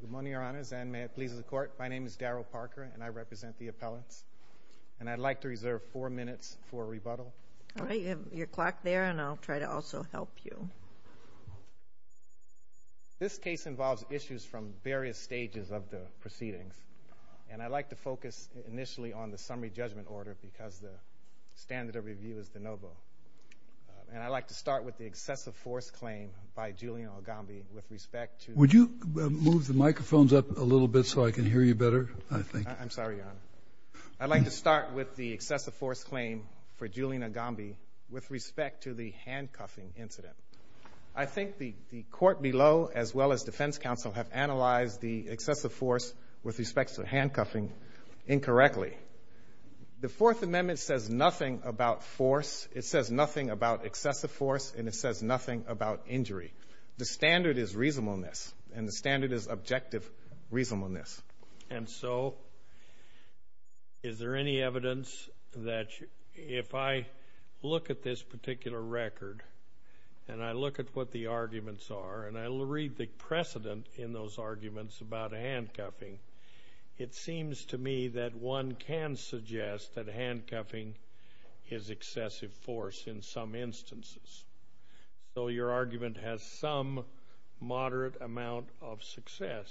Good morning, Your Honors, and may it please the Court, my name is Daryl Parker and I represent the appellants, and I'd like to reserve four minutes for a rebuttal. All right, you have your clock there and I'll try to also help you. This case involves issues from various stages of the proceedings, and I'd like to focus initially on the summary judgment order because the standard of review is the NOBO, and I'd like to start with the excessive force claim by Julian Ogambi with respect to— Would you move the microphones up a little bit so I can hear you better? I think— I'm sorry, Your Honor. I'd like to start with the excessive force claim for Julian Ogambi with respect to the handcuffing incident. I think the Court below, as well as defense counsel, have analyzed the excessive force with respect to handcuffing incorrectly. The Fourth Amendment says nothing about force. It says nothing about excessive force, and it says nothing about injury. The standard is reasonableness, and the standard is objective reasonableness. And so, is there any evidence that if I look at this particular record, and I look at what the arguments are, and I'll read the precedent in those arguments about handcuffing, it seems to me that one can suggest that handcuffing is excessive force in some instances. So, your argument has some moderate amount of success.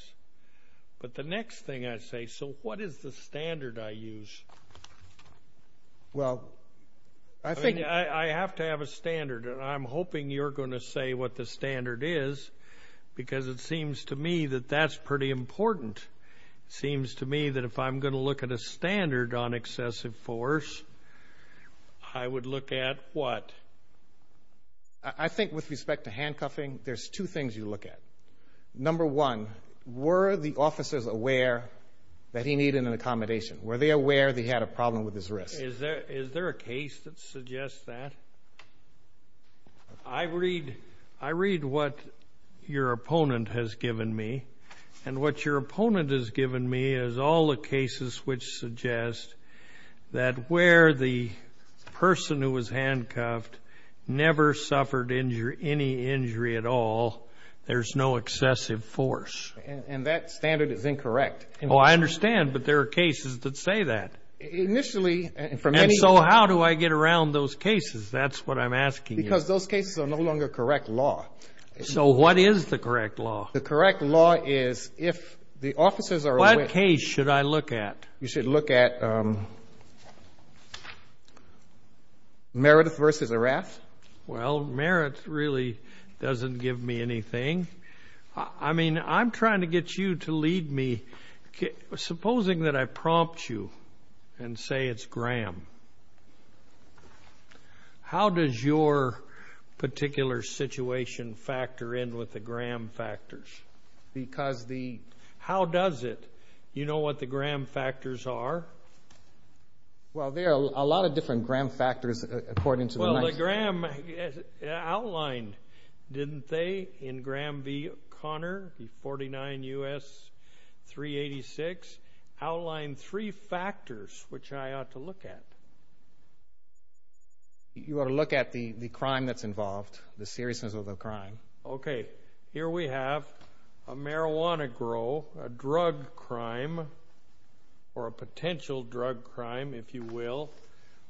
But the next thing I say, so what is the standard I use? Well, I think— I have to have a standard, and I'm hoping you're going to say what the standard is, because it seems to me that that's pretty important. It seems to me that if I'm going to look at a standard on excessive force, I would look at what? I think with respect to handcuffing, there's two things you look at. Number one, were the officers aware that he needed an accommodation? Were they aware that he had a problem with his wrist? Is there a case that suggests that? I read what your opponent has given me, and what your opponent has given me is all the person who was handcuffed never suffered any injury at all. There's no excessive force. And that standard is incorrect. Oh, I understand, but there are cases that say that. Initially— And so how do I get around those cases? That's what I'm asking you. Because those cases are no longer correct law. So what is the correct law? The correct law is if the officers are aware— What case should I look at? You should look at Meredith v. Arath. Well, Meredith really doesn't give me anything. I mean, I'm trying to get you to lead me. Supposing that I prompt you and say it's Graham. How does your particular situation factor in with the Graham factors? Because the— How does it? You know what the Graham factors are? Well, there are a lot of different Graham factors according to the— Well, the Graham—outlined, didn't they, in Graham v. Conner, 49 U.S. 386, outlined three factors which I ought to look at. You ought to look at the crime that's involved, the seriousness of the crime. Okay, here we have a marijuana grow, a drug crime, or a potential drug crime, if you will,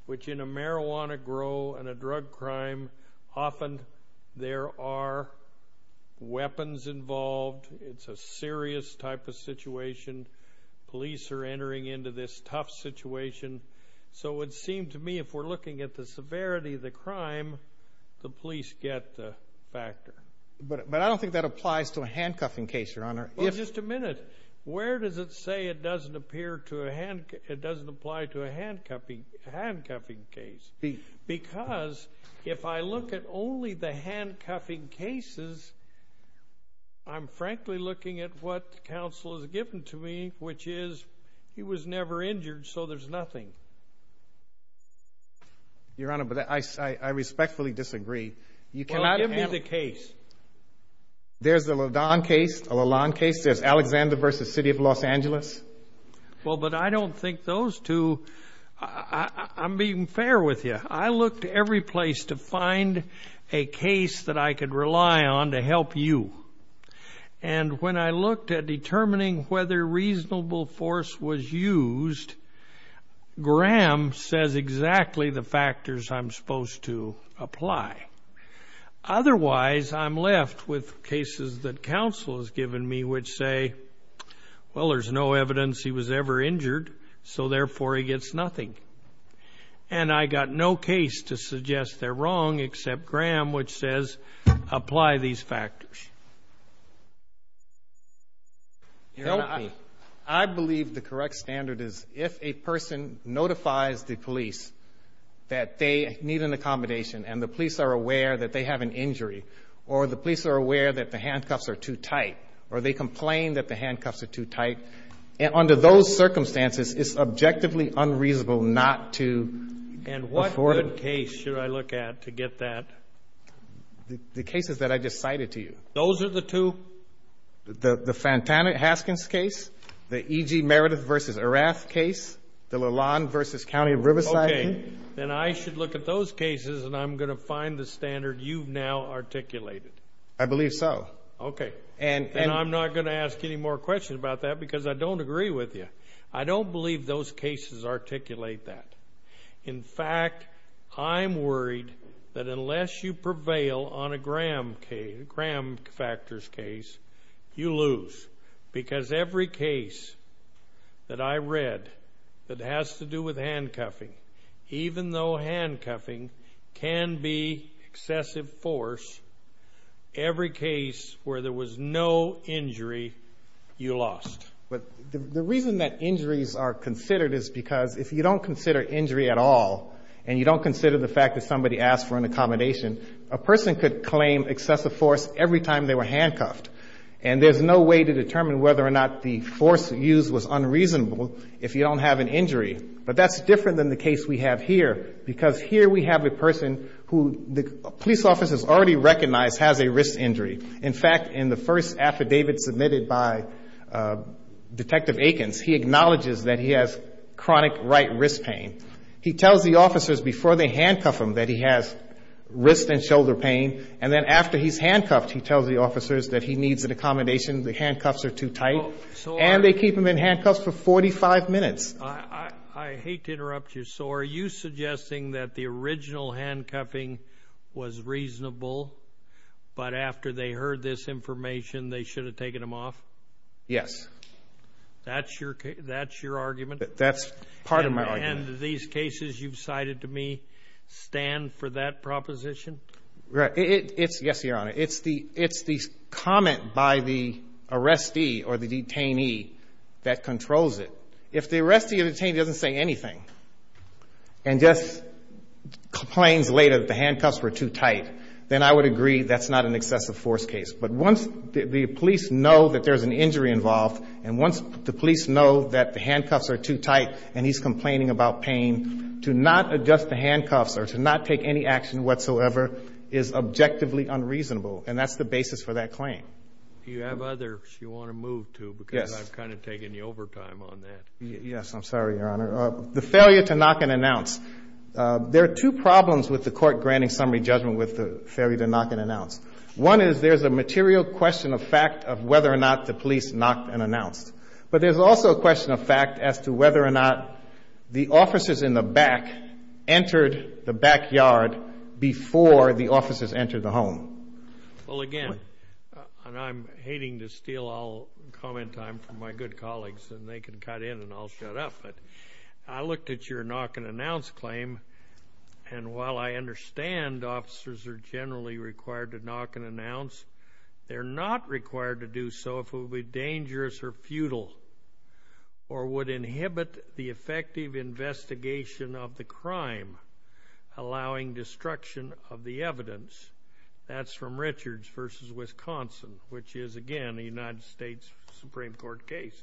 which in a marijuana grow and a drug crime, often there are weapons involved. It's a serious type of situation. Police are entering into this tough situation. So it would seem to me if we're looking at the severity of the crime, the police get the factor. But I don't think that applies to a handcuffing case, Your Honor. Well, just a minute. Where does it say it doesn't apply to a handcuffing case? Because if I look at only the handcuffing cases, I'm frankly looking at what counsel has given to me, which is he was never injured, so there's nothing. Your Honor, but I respectfully disagree. You cannot— Well, give me the case. There's the Laudon case, the Lalonde case, there's Alexander v. City of Los Angeles. Well, but I don't think those two—I'm being fair with you. I looked every place to find a case that I could rely on to help you. And when I looked at determining whether reasonable force was used, Graham says exactly the factors I'm supposed to apply. Otherwise, I'm left with cases that counsel has given me which say, well, there's no evidence he was ever injured, so therefore he gets nothing. And I got no case to suggest they're wrong except Graham, which says, apply these factors. Your Honor, I believe the correct standard is if a person notifies the police that they need an accommodation and the police are aware that they have an injury, or the police are aware that the handcuffs are too tight, or they complain that the handcuffs are too tight, and under those circumstances, it's objectively unreasonable not to afford it. And what good case should I look at to get that? The cases that I just cited to you. Those are the two? The Fantanit-Haskins case, the E.G. Meredith v. Erath case, the Lalonde v. County of Riverside case. Okay. Then I should look at those cases, and I'm going to find the standard you've now articulated. I believe so. Okay. And I'm not going to ask any more questions about that because I don't agree with you. I don't believe those cases articulate that. In fact, I'm worried that unless you prevail on a Graham factors case, you lose, because every case that I read that has to do with handcuffing, even though handcuffing can be a risk, you have no injury, you lost. The reason that injuries are considered is because if you don't consider injury at all, and you don't consider the fact that somebody asked for an accommodation, a person could claim excessive force every time they were handcuffed. And there's no way to determine whether or not the force used was unreasonable if you don't have an injury. But that's different than the case we have here, because here we have a person who the police officers already recognize has a risk injury. In fact, in the first affidavit submitted by Detective Akins, he acknowledges that he has chronic right wrist pain. He tells the officers before they handcuff him that he has wrist and shoulder pain, and then after he's handcuffed, he tells the officers that he needs an accommodation, the handcuffs are too tight, and they keep him in handcuffs for 45 minutes. I hate to interrupt you, so are you suggesting that the original handcuffing was reasonable, but after they heard this information, they should have taken them off? Yes. That's your argument? That's part of my argument. And these cases you've cited to me stand for that proposition? Yes, Your Honor. It's the comment by the arrestee or the detainee that controls it. If the arrestee or detainee doesn't say anything and just complains later that the handcuffs were too tight, then I would agree that's not an excessive force case. But once the police know that there's an injury involved, and once the police know that the handcuffs are too tight and he's complaining about pain, to not adjust the handcuffs or to not take any action whatsoever is objectively unreasonable, and that's the basis for that claim. Do you have others you want to move to because I've kind of taken the overtime on that? Yes, I'm sorry, Your Honor. The failure to knock and announce. There are two problems with the court granting summary judgment with the failure to knock and announce. One is there's a material question of fact of whether or not the police knocked and announced. But there's also a question of fact as to whether or not the officers in the back entered the backyard before the officers entered the home. Well, again, and I'm hating to steal all comment time from my good colleagues, and they can cut in and I'll shut up. I looked at your knock and announce claim, and while I understand officers are generally required to knock and announce, they're not required to do so if it would be dangerous or futile, or would inhibit the effective investigation of the crime, allowing destruction of the evidence. That's from Richards v. Wisconsin, which is, again, a United States Supreme Court case.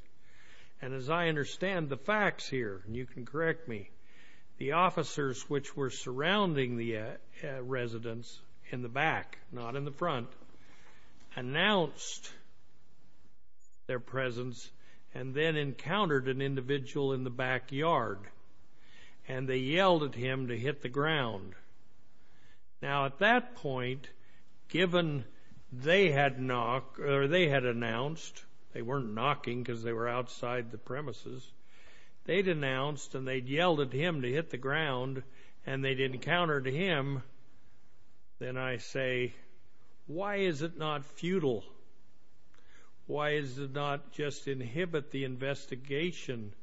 And as I understand the facts here, and you can correct me, the officers which were surrounding the residents in the back, not in the front, announced their presence and then encountered an individual in the backyard, and they yelled at him to hit the ground. Now at that point, given they had announced, they weren't knocking because they were outside the premises, they'd announced and they'd yelled at him to hit the ground, and they'd encountered him, then I say, why is it not futile? Why is it not just inhibit the investigation?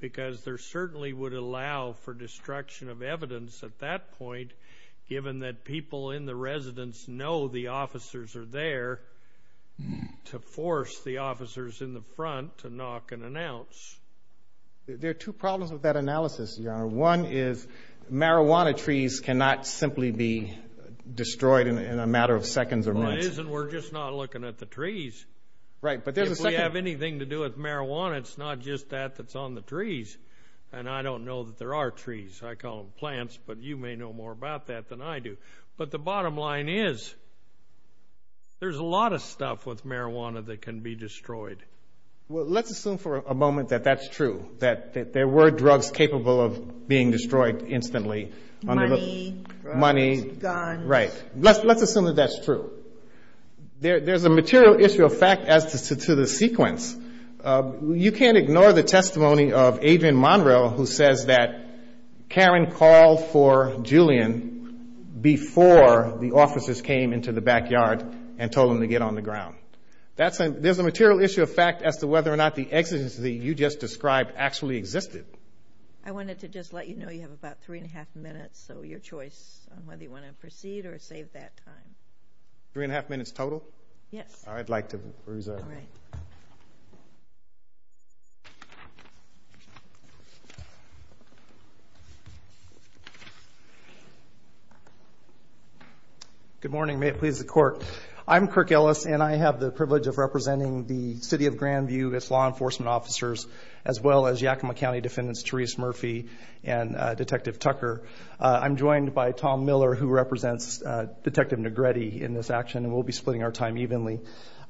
Because there certainly would allow for destruction of evidence at that point, given that people in the residence know the officers are there to force the officers in the front to knock and announce. There are two problems with that analysis, Your Honor. One is marijuana trees cannot simply be destroyed in a matter of seconds or minutes. Well, it isn't. We're just not looking at the trees. Right. But there's a second. If we have anything to do with marijuana, it's not just that that's on the trees. And I don't know that there are trees. I call them plants, but you may know more about that than I do. But the bottom line is, there's a lot of stuff with marijuana that can be destroyed. Well, let's assume for a moment that that's true, that there were drugs capable of being destroyed instantly. Money, drugs, guns. Right. Let's assume that that's true. There's a material issue of fact as to the sequence. You can't ignore the testimony of Adrian Monroe, who says that Karen called for Julian before the officers came into the backyard and told him to get on the ground. There's a material issue of fact as to whether or not the exigencies that you just described actually existed. I wanted to just let you know you have about three and a half minutes, so your choice on whether you want to proceed or save that time. Three and a half minutes total? Yes. All right. I'd like to reserve that. All right. Good morning. May it please the Court. I'm Kirk Ellis, and I have the privilege of representing the city of Grandview, its law enforcement officers, as well as Yakima County defendants, Therese Murphy and Detective Tucker. I'm joined by Tom Miller, who represents Detective Negrete in this action, and we'll be splitting our time evenly.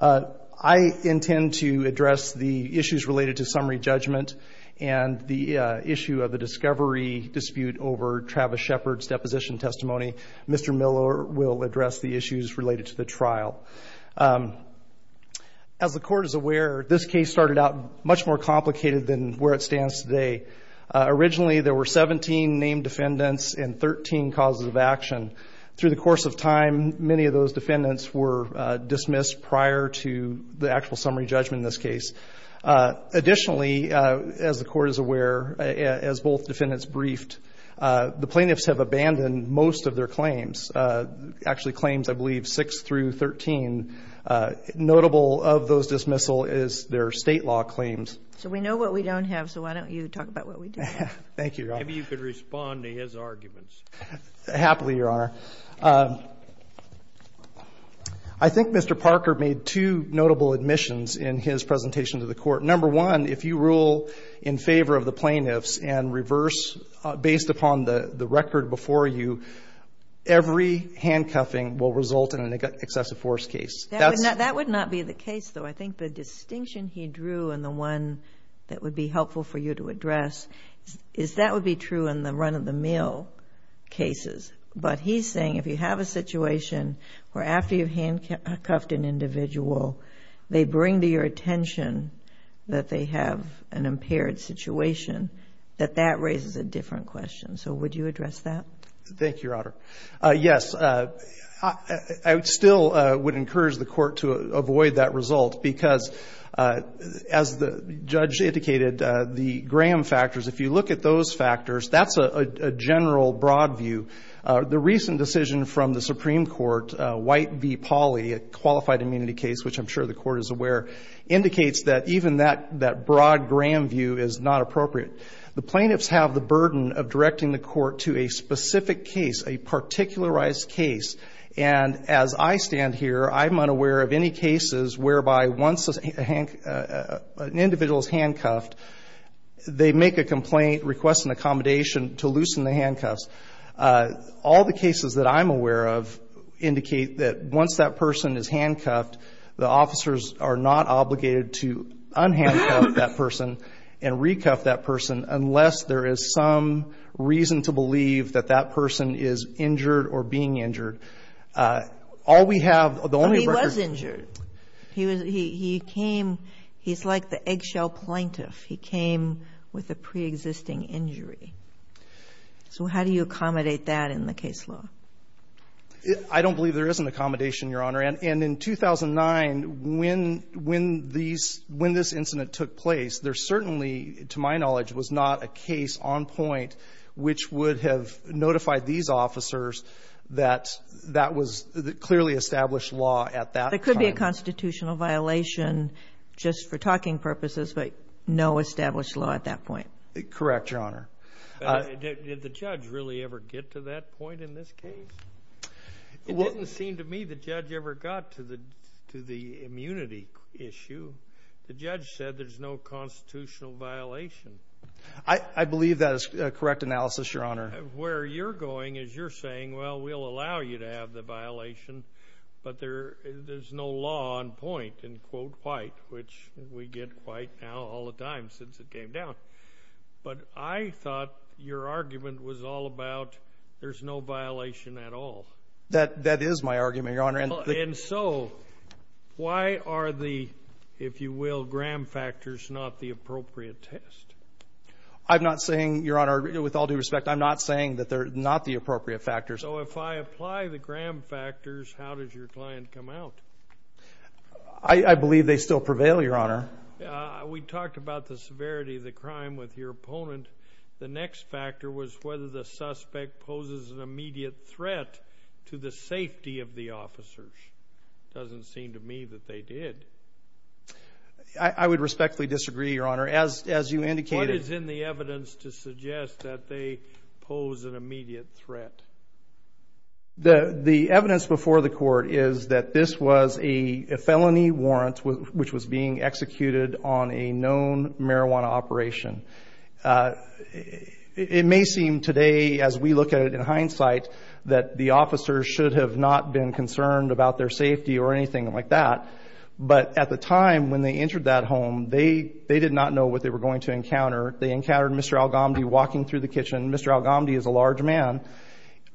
I intend to address the issues related to summary judgment and the issue of the discovery dispute over Travis Shepard's deposition testimony. Mr. Miller will address the issues related to the trial. As the Court is aware, this case started out much more complicated than where it stands today. Originally, there were 17 named defendants and 13 causes of action. Through the course of time, many of those defendants were dismissed prior to the actual summary judgment in this case. Additionally, as the Court is aware, as both defendants briefed, the plaintiffs have abandoned most of their claims, actually claims, I believe, 6 through 13. Notable of those dismissal is their state law claims. So we know what we don't have, so why don't you talk about what we do? Thank you, Your Honor. Maybe you could respond to his arguments. Happily, Your Honor. I think Mr. Parker made two notable admissions in his presentation to the Court. Number one, if you rule in favor of the plaintiffs and reverse based upon the record before you, every handcuffing will result in an excessive force case. That would not be the case, though. I think the distinction he drew and the one that would be helpful for you to address is that would be true in the run-of-the-mill cases. But he's saying if you have a situation where after you've handcuffed an individual, they bring to your attention that they have an impaired situation, that that raises a different question. So would you address that? Thank you, Your Honor. Yes. I still would encourage the Court to avoid that result because, as the judge indicated, the Graham factors, if you look at those factors, that's a general broad view. The recent decision from the Supreme Court, White v. Pauley, a qualified immunity case, which I'm sure the Court is aware, indicates that even that broad Graham view is not appropriate. The plaintiffs have the burden of directing the Court to a specific case, a particularized case. And as I stand here, I'm unaware of any cases whereby once an individual is handcuffed, they make a complaint, request an accommodation to loosen the handcuffs. All the cases that I'm aware of indicate that once that person is handcuffed, the officers are not obligated to unhandcuff that person and recuff that person unless there is some reason to believe that that person is injured or being injured. All we have, the only record... But he was injured. He came, he's like the eggshell plaintiff. He came with a preexisting injury. So how do you accommodate that in the case law? I don't believe there is an accommodation, Your Honor. And in 2009, when this incident took place, there certainly, to my knowledge, was not a case on point which would have notified these officers that that was clearly established law at that time. There could be a constitutional violation, just for talking purposes, but no established law at that point. Correct, Your Honor. Did the judge really ever get to that point in this case? It didn't seem to me the judge ever got to the immunity issue. The judge said there's no constitutional violation. I believe that is correct analysis, Your Honor. Where you're going is you're saying, well, we'll allow you to have the violation, but there's no law on point in quote, quite, which we get quite now all the time since it came down. But I thought your argument was all about there's no violation at all. That is my argument, Your Honor. And so why are the, if you will, gram factors not the appropriate test? I'm not saying, Your Honor, with all due respect, I'm not saying that they're not the appropriate factors. So if I apply the gram factors, how does your client come out? I believe they still prevail, Your Honor. We talked about the severity of the crime with your opponent. And the next factor was whether the suspect poses an immediate threat to the safety of the officers. It doesn't seem to me that they did. I would respectfully disagree, Your Honor. As you indicated. What is in the evidence to suggest that they pose an immediate threat? The evidence before the court is that this was a felony warrant, which was being executed on a known marijuana operation. It may seem today, as we look at it in hindsight, that the officers should have not been concerned about their safety or anything like that. But at the time when they entered that home, they did not know what they were going to encounter. They encountered Mr. Algamdi walking through the kitchen. Mr. Algamdi is a large man.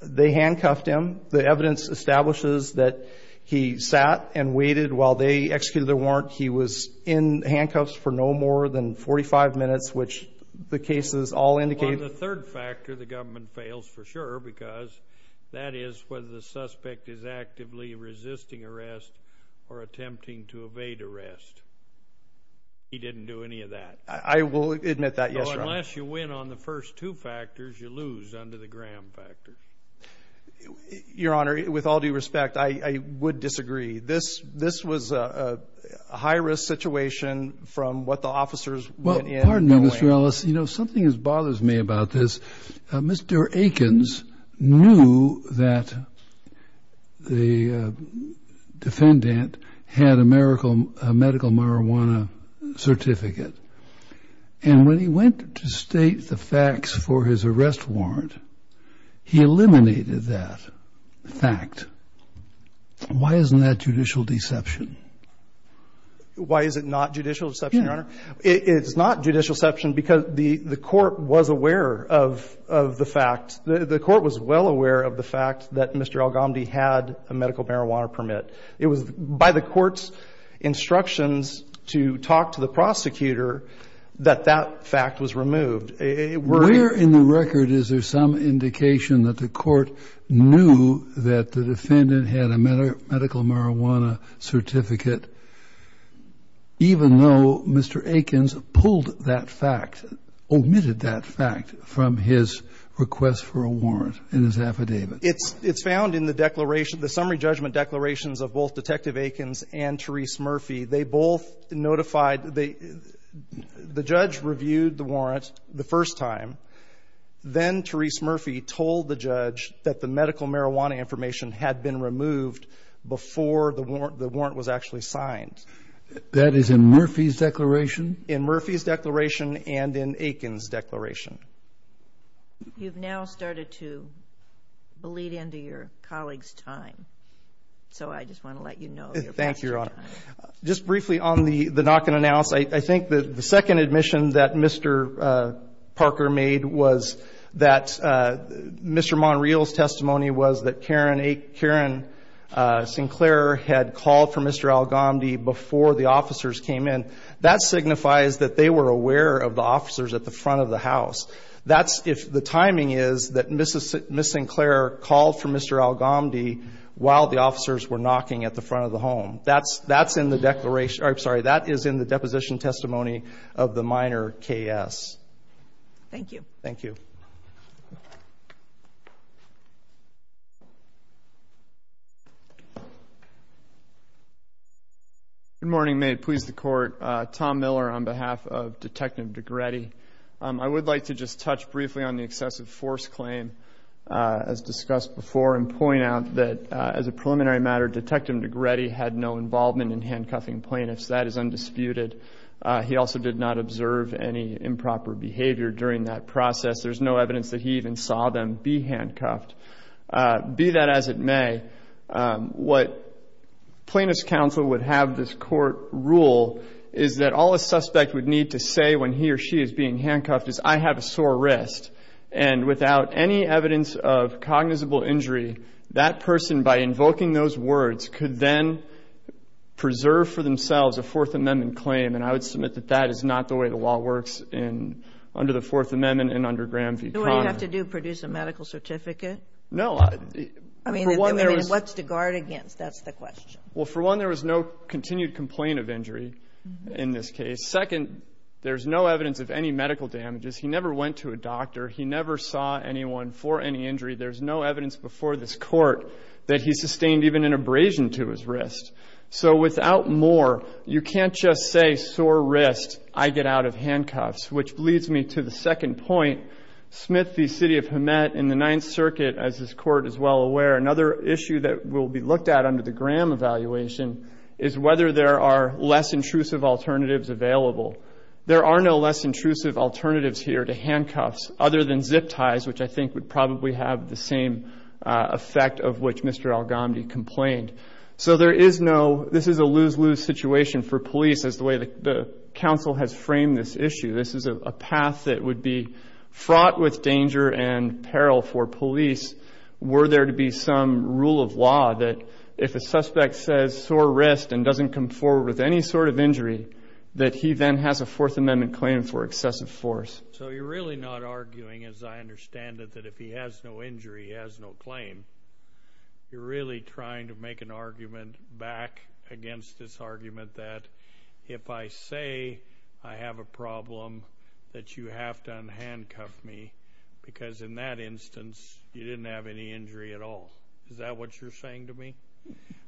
They handcuffed him. The evidence establishes that he sat and waited while they executed the warrant. He was in handcuffs for no more than 45 minutes, which the cases all indicated. Well, the third factor, the government fails for sure, because that is whether the suspect is actively resisting arrest or attempting to evade arrest. He didn't do any of that. I will admit that, yes, Your Honor. So unless you win on the first two factors, you lose under the Graham factor. Your Honor, with all due respect, I would disagree. This was a high-risk situation from what the officers went in knowing. Well, pardon me, Mr. Ellis. You know, something that bothers me about this, Mr. Akins knew that the defendant had a medical marijuana certificate. And when he went to state the facts for his arrest warrant, he eliminated that fact. Why isn't that judicial deception? Why is it not judicial deception, Your Honor? It's not judicial deception because the court was aware of the fact, the court was well aware of the fact that Mr. Algamdi had a medical marijuana permit. It was by the court's instructions to talk to the prosecutor that that fact was removed. Where in the record is there some indication that the court knew that the defendant had a medical marijuana certificate, even though Mr. Akins pulled that fact, omitted that fact from his request for a warrant in his affidavit? It's found in the summary judgment declarations of both Detective Akins and Therese Murphy. And the first time, then Therese Murphy told the judge that the medical marijuana information had been removed before the warrant was actually signed. That is in Murphy's declaration? In Murphy's declaration and in Akins' declaration. You've now started to bleed into your colleague's time. So I just want to let you know. Thank you, Your Honor. Just briefly on the knock and announce, I think the second admission that Mr. Parker made was that Mr. Monreal's testimony was that Karen Sinclair had called for Mr. Algamdi before the officers came in. That signifies that they were aware of the officers at the front of the house. That's if the timing is that Ms. Sinclair called for Mr. Algamdi while the officers were knocking at the front of the home. That's in the declaration. I'm sorry, that is in the deposition testimony of the minor KS. Thank you. Thank you. Good morning, may it please the court. Tom Miller on behalf of Detective DeGretti. I would like to just touch briefly on the excessive force claim as discussed before and point out that as a preliminary matter, Detective DeGretti had no involvement in handcuffing plaintiffs. That is undisputed. He also did not observe any improper behavior during that process. There's no evidence that he even saw them be handcuffed. Be that as it may, what plaintiff's counsel would have this court rule is that all a suspect would need to say when he or she is being handcuffed is, I have a sore wrist. And without any evidence of cognizable injury, that person by invoking those words could then preserve for themselves a Fourth Amendment claim. And I would submit that that is not the way the law works under the Fourth Amendment and under Graham v. Conner. Do you have to produce a medical certificate? No. I mean, what's the guard against? That's the question. Well, for one, there was no continued complaint of injury in this case. Second, there's no evidence of any medical damages. He never went to a doctor. He never saw anyone for any injury. There's no evidence before this court that he sustained even an abrasion to his wrist. So without more, you can't just say sore wrist, I get out of handcuffs, which leads me to the second point. Smith v. City of Hemat in the Ninth Circuit, as this court is well aware, another issue that will be looked at under the Graham evaluation is whether there are less intrusive alternatives available. There are no less intrusive alternatives here to handcuffs other than zip ties, which I think would probably have the same effect of which Mr. Algamdy complained. So there is no, this is a lose-lose situation for police as the way the counsel has framed this issue. This is a path that would be fraught with danger and peril for police. Were there to be some rule of law that if a suspect says sore wrist and doesn't come forward with any sort of injury, that he then has a Fourth Amendment claim for excessive force. So you're really not arguing, as I understand it, that if he has no injury, he has no claim. You're really trying to make an argument back against this argument that if I say I have a problem, that you have to unhandcuff me. Because in that instance, you didn't have any injury at all. Is that what you're saying to me?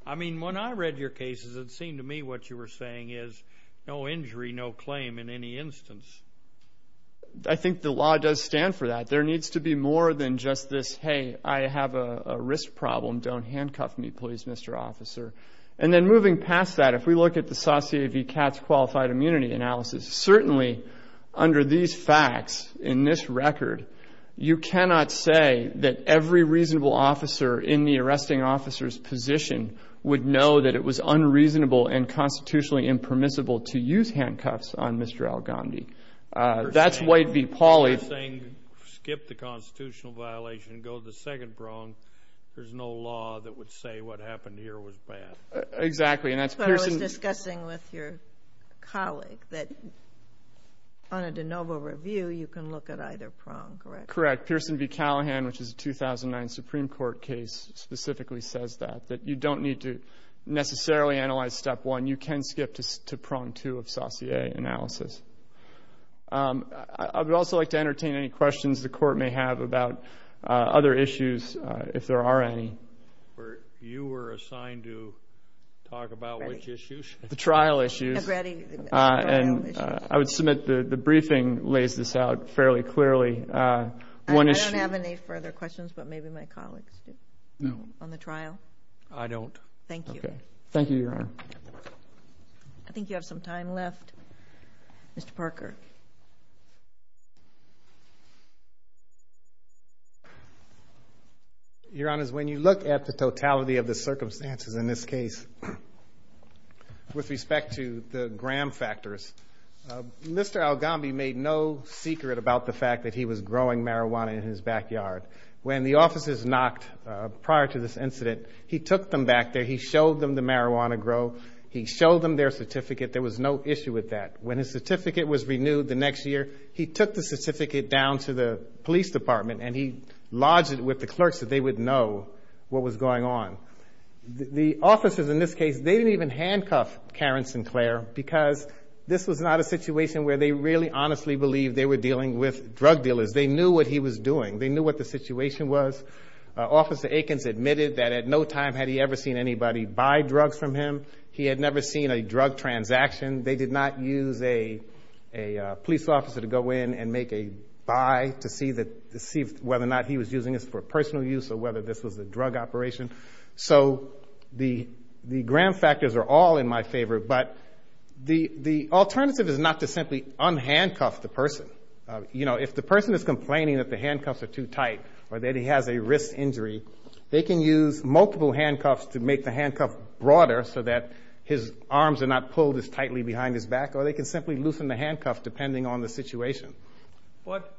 I mean, when I read your cases, it seemed to me what you were saying is, no injury, no claim in any instance. I think the law does stand for that. There needs to be more than just this, hey, I have a wrist problem. Don't handcuff me, please, Mr. Officer. And then moving past that, if we look at the Saucier v. Katz Qualified Immunity Analysis. Certainly, under these facts, in this record, you cannot say that every reasonable officer in the arresting officer's position would know that it was unreasonable and constitutionally impermissible to use handcuffs on Mr. Al-Gandhi. That's why the poly- You're saying, skip the constitutional violation and go to the second prong. There's no law that would say what happened here was bad. Exactly, and that's- That's what I was discussing with your colleague, that on a de novo review, you can look at either prong, correct? Correct. Pearson v. Callahan, which is a 2009 Supreme Court case, specifically says that, that you don't need to necessarily analyze step one. You can skip to prong two of Saucier analysis. I would also like to entertain any questions the court may have about other issues, if there are any. Where you were assigned to talk about which issues? The trial issues. The trial issues. And I would submit the briefing lays this out fairly clearly. I don't have any further questions, but maybe my colleagues do. No. On the trial? I don't. Thank you. Thank you, Your Honor. I think you have some time left. Mr. Parker. Your Honor, when you look at the totality of the circumstances in this case, with respect to the gram factors, Mr. Algambi made no secret about the fact that he was growing marijuana in his backyard. When the officers knocked prior to this incident, he took them back there. He showed them the marijuana grow. He showed them their certificate. There was no issue with that. When his certificate was renewed the next year, he took the certificate down to the police department, and he lodged it with the clerks so they would know what was going on. The officers in this case, they didn't even handcuff Karen Sinclair because this was not a situation where they really honestly believed they were dealing with drug dealers. They knew what he was doing. They knew what the situation was. Officer Akins admitted that at no time had he ever seen anybody buy drugs from him. He had never seen a drug transaction. They did not use a police officer to go in and make a buy to see whether or not he was using this for personal use or whether this was a drug operation. So the gram factors are all in my favor, but the alternative is not to simply unhandcuff the person. You know, if the person is complaining that the handcuffs are too tight or that he has a wrist injury, they can use multiple handcuffs to make the handcuff broader so that his arms are not pulled as tightly behind his back, or they can simply loosen the handcuffs depending on the situation. What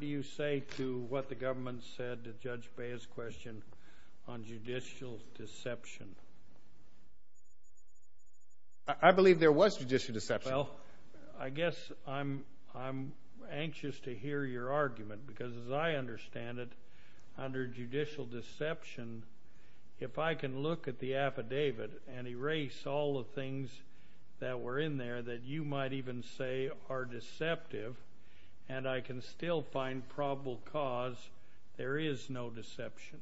do you say to what the government said to Judge Bea's question on judicial deception? I believe there was judicial deception. Well, I guess I'm anxious to hear your argument because as I understand it, under judicial deception, if I can look at the affidavit and erase all the things that were in there that you might even say are deceptive, and I can still find probable cause, there is no deception.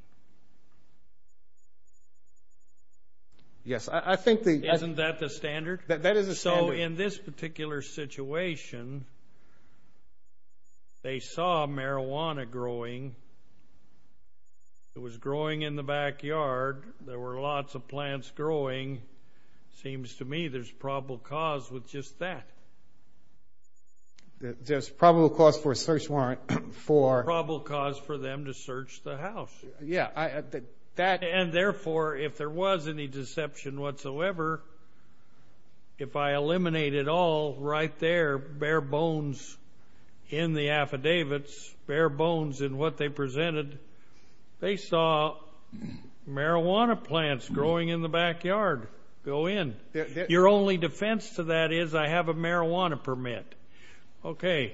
Yes, I think the... Isn't that the standard? That is the standard. So in this particular situation, they saw marijuana growing. It was growing in the backyard. There were lots of plants growing. It seems to me there's probable cause with just that. There's probable cause for a search warrant for... Probable cause for them to search the house. Yeah, that... And therefore, if there was any deception whatsoever, if I eliminate it all right there, bare bones in the affidavits, bare bones in what they presented, they saw marijuana plants growing in the backyard go in. Your only defence to that is I have a marijuana permit. OK.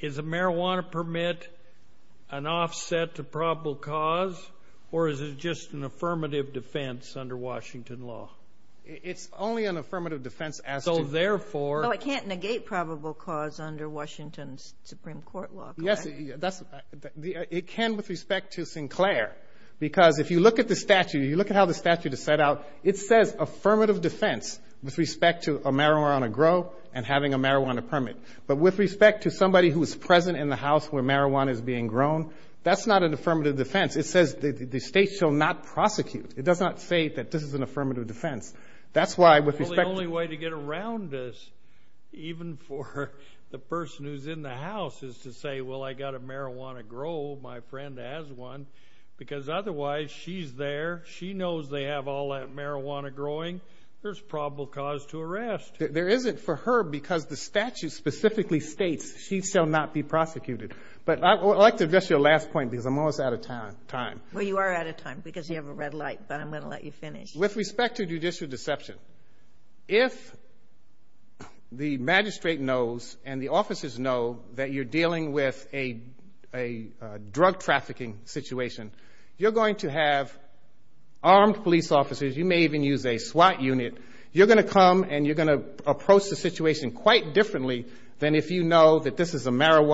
Is a marijuana permit an offset to probable cause or is it just an affirmative defence under Washington law? It's only an affirmative defence as to... So therefore... Oh, I can't negate probable cause under Washington's Supreme Court law. Yes, it can with respect to Sinclair. Because if you look at the statute, you look at how the statute is set out, it says affirmative defence with respect to a marijuana grow and having a marijuana permit. But with respect to somebody who is present in the house where marijuana is being grown, that's not an affirmative defence. It says the state shall not prosecute. It does not say that this is an affirmative defence. That's why, with respect to... Well, the only way to get around this, even for the person who's in the house, is to say, well, I got a marijuana grow, my friend has one, because otherwise, she's there, she knows they have all that marijuana growing, there's probable cause to arrest. There isn't for her because the statute specifically states she shall not be prosecuted. But I would like to address your last point because I'm almost out of time. Well, you are out of time because you have a red light, but I'm going to let you finish. With respect to judicial deception, if the magistrate knows and the officers know that you're dealing with a drug trafficking situation, you're going to have armed police officers, you may even use a SWAT unit, you're going to come and you're going to approach the situation quite differently than if you know that this is a medical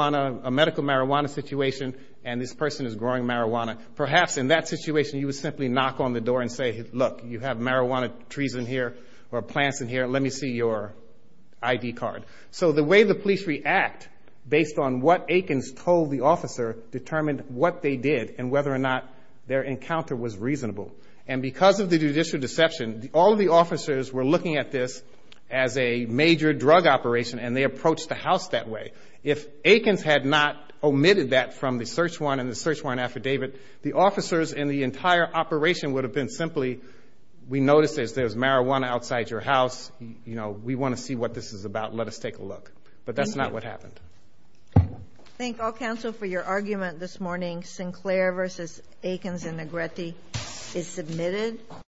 marijuana situation and this person is growing marijuana. Perhaps in that situation, you would simply knock on the door and say, look, you have marijuana trees in here or plants in here, let me see your ID card. So the way the police react, based on what Aikens told the officer, determined what they did and whether or not their encounter was reasonable. And because of the judicial deception, all of the officers were looking at this as a major drug operation and they approached the house that way. If Aikens had not omitted that from the search warrant and the search warrant affidavit, the officers and the entire operation would have been simply, we noticed there's marijuana outside your house, we want to see what this is about, let us take a look. But that's not what happened. Thank all counsel for your argument this morning. Sinclair v. Aikens and Negrete is submitted.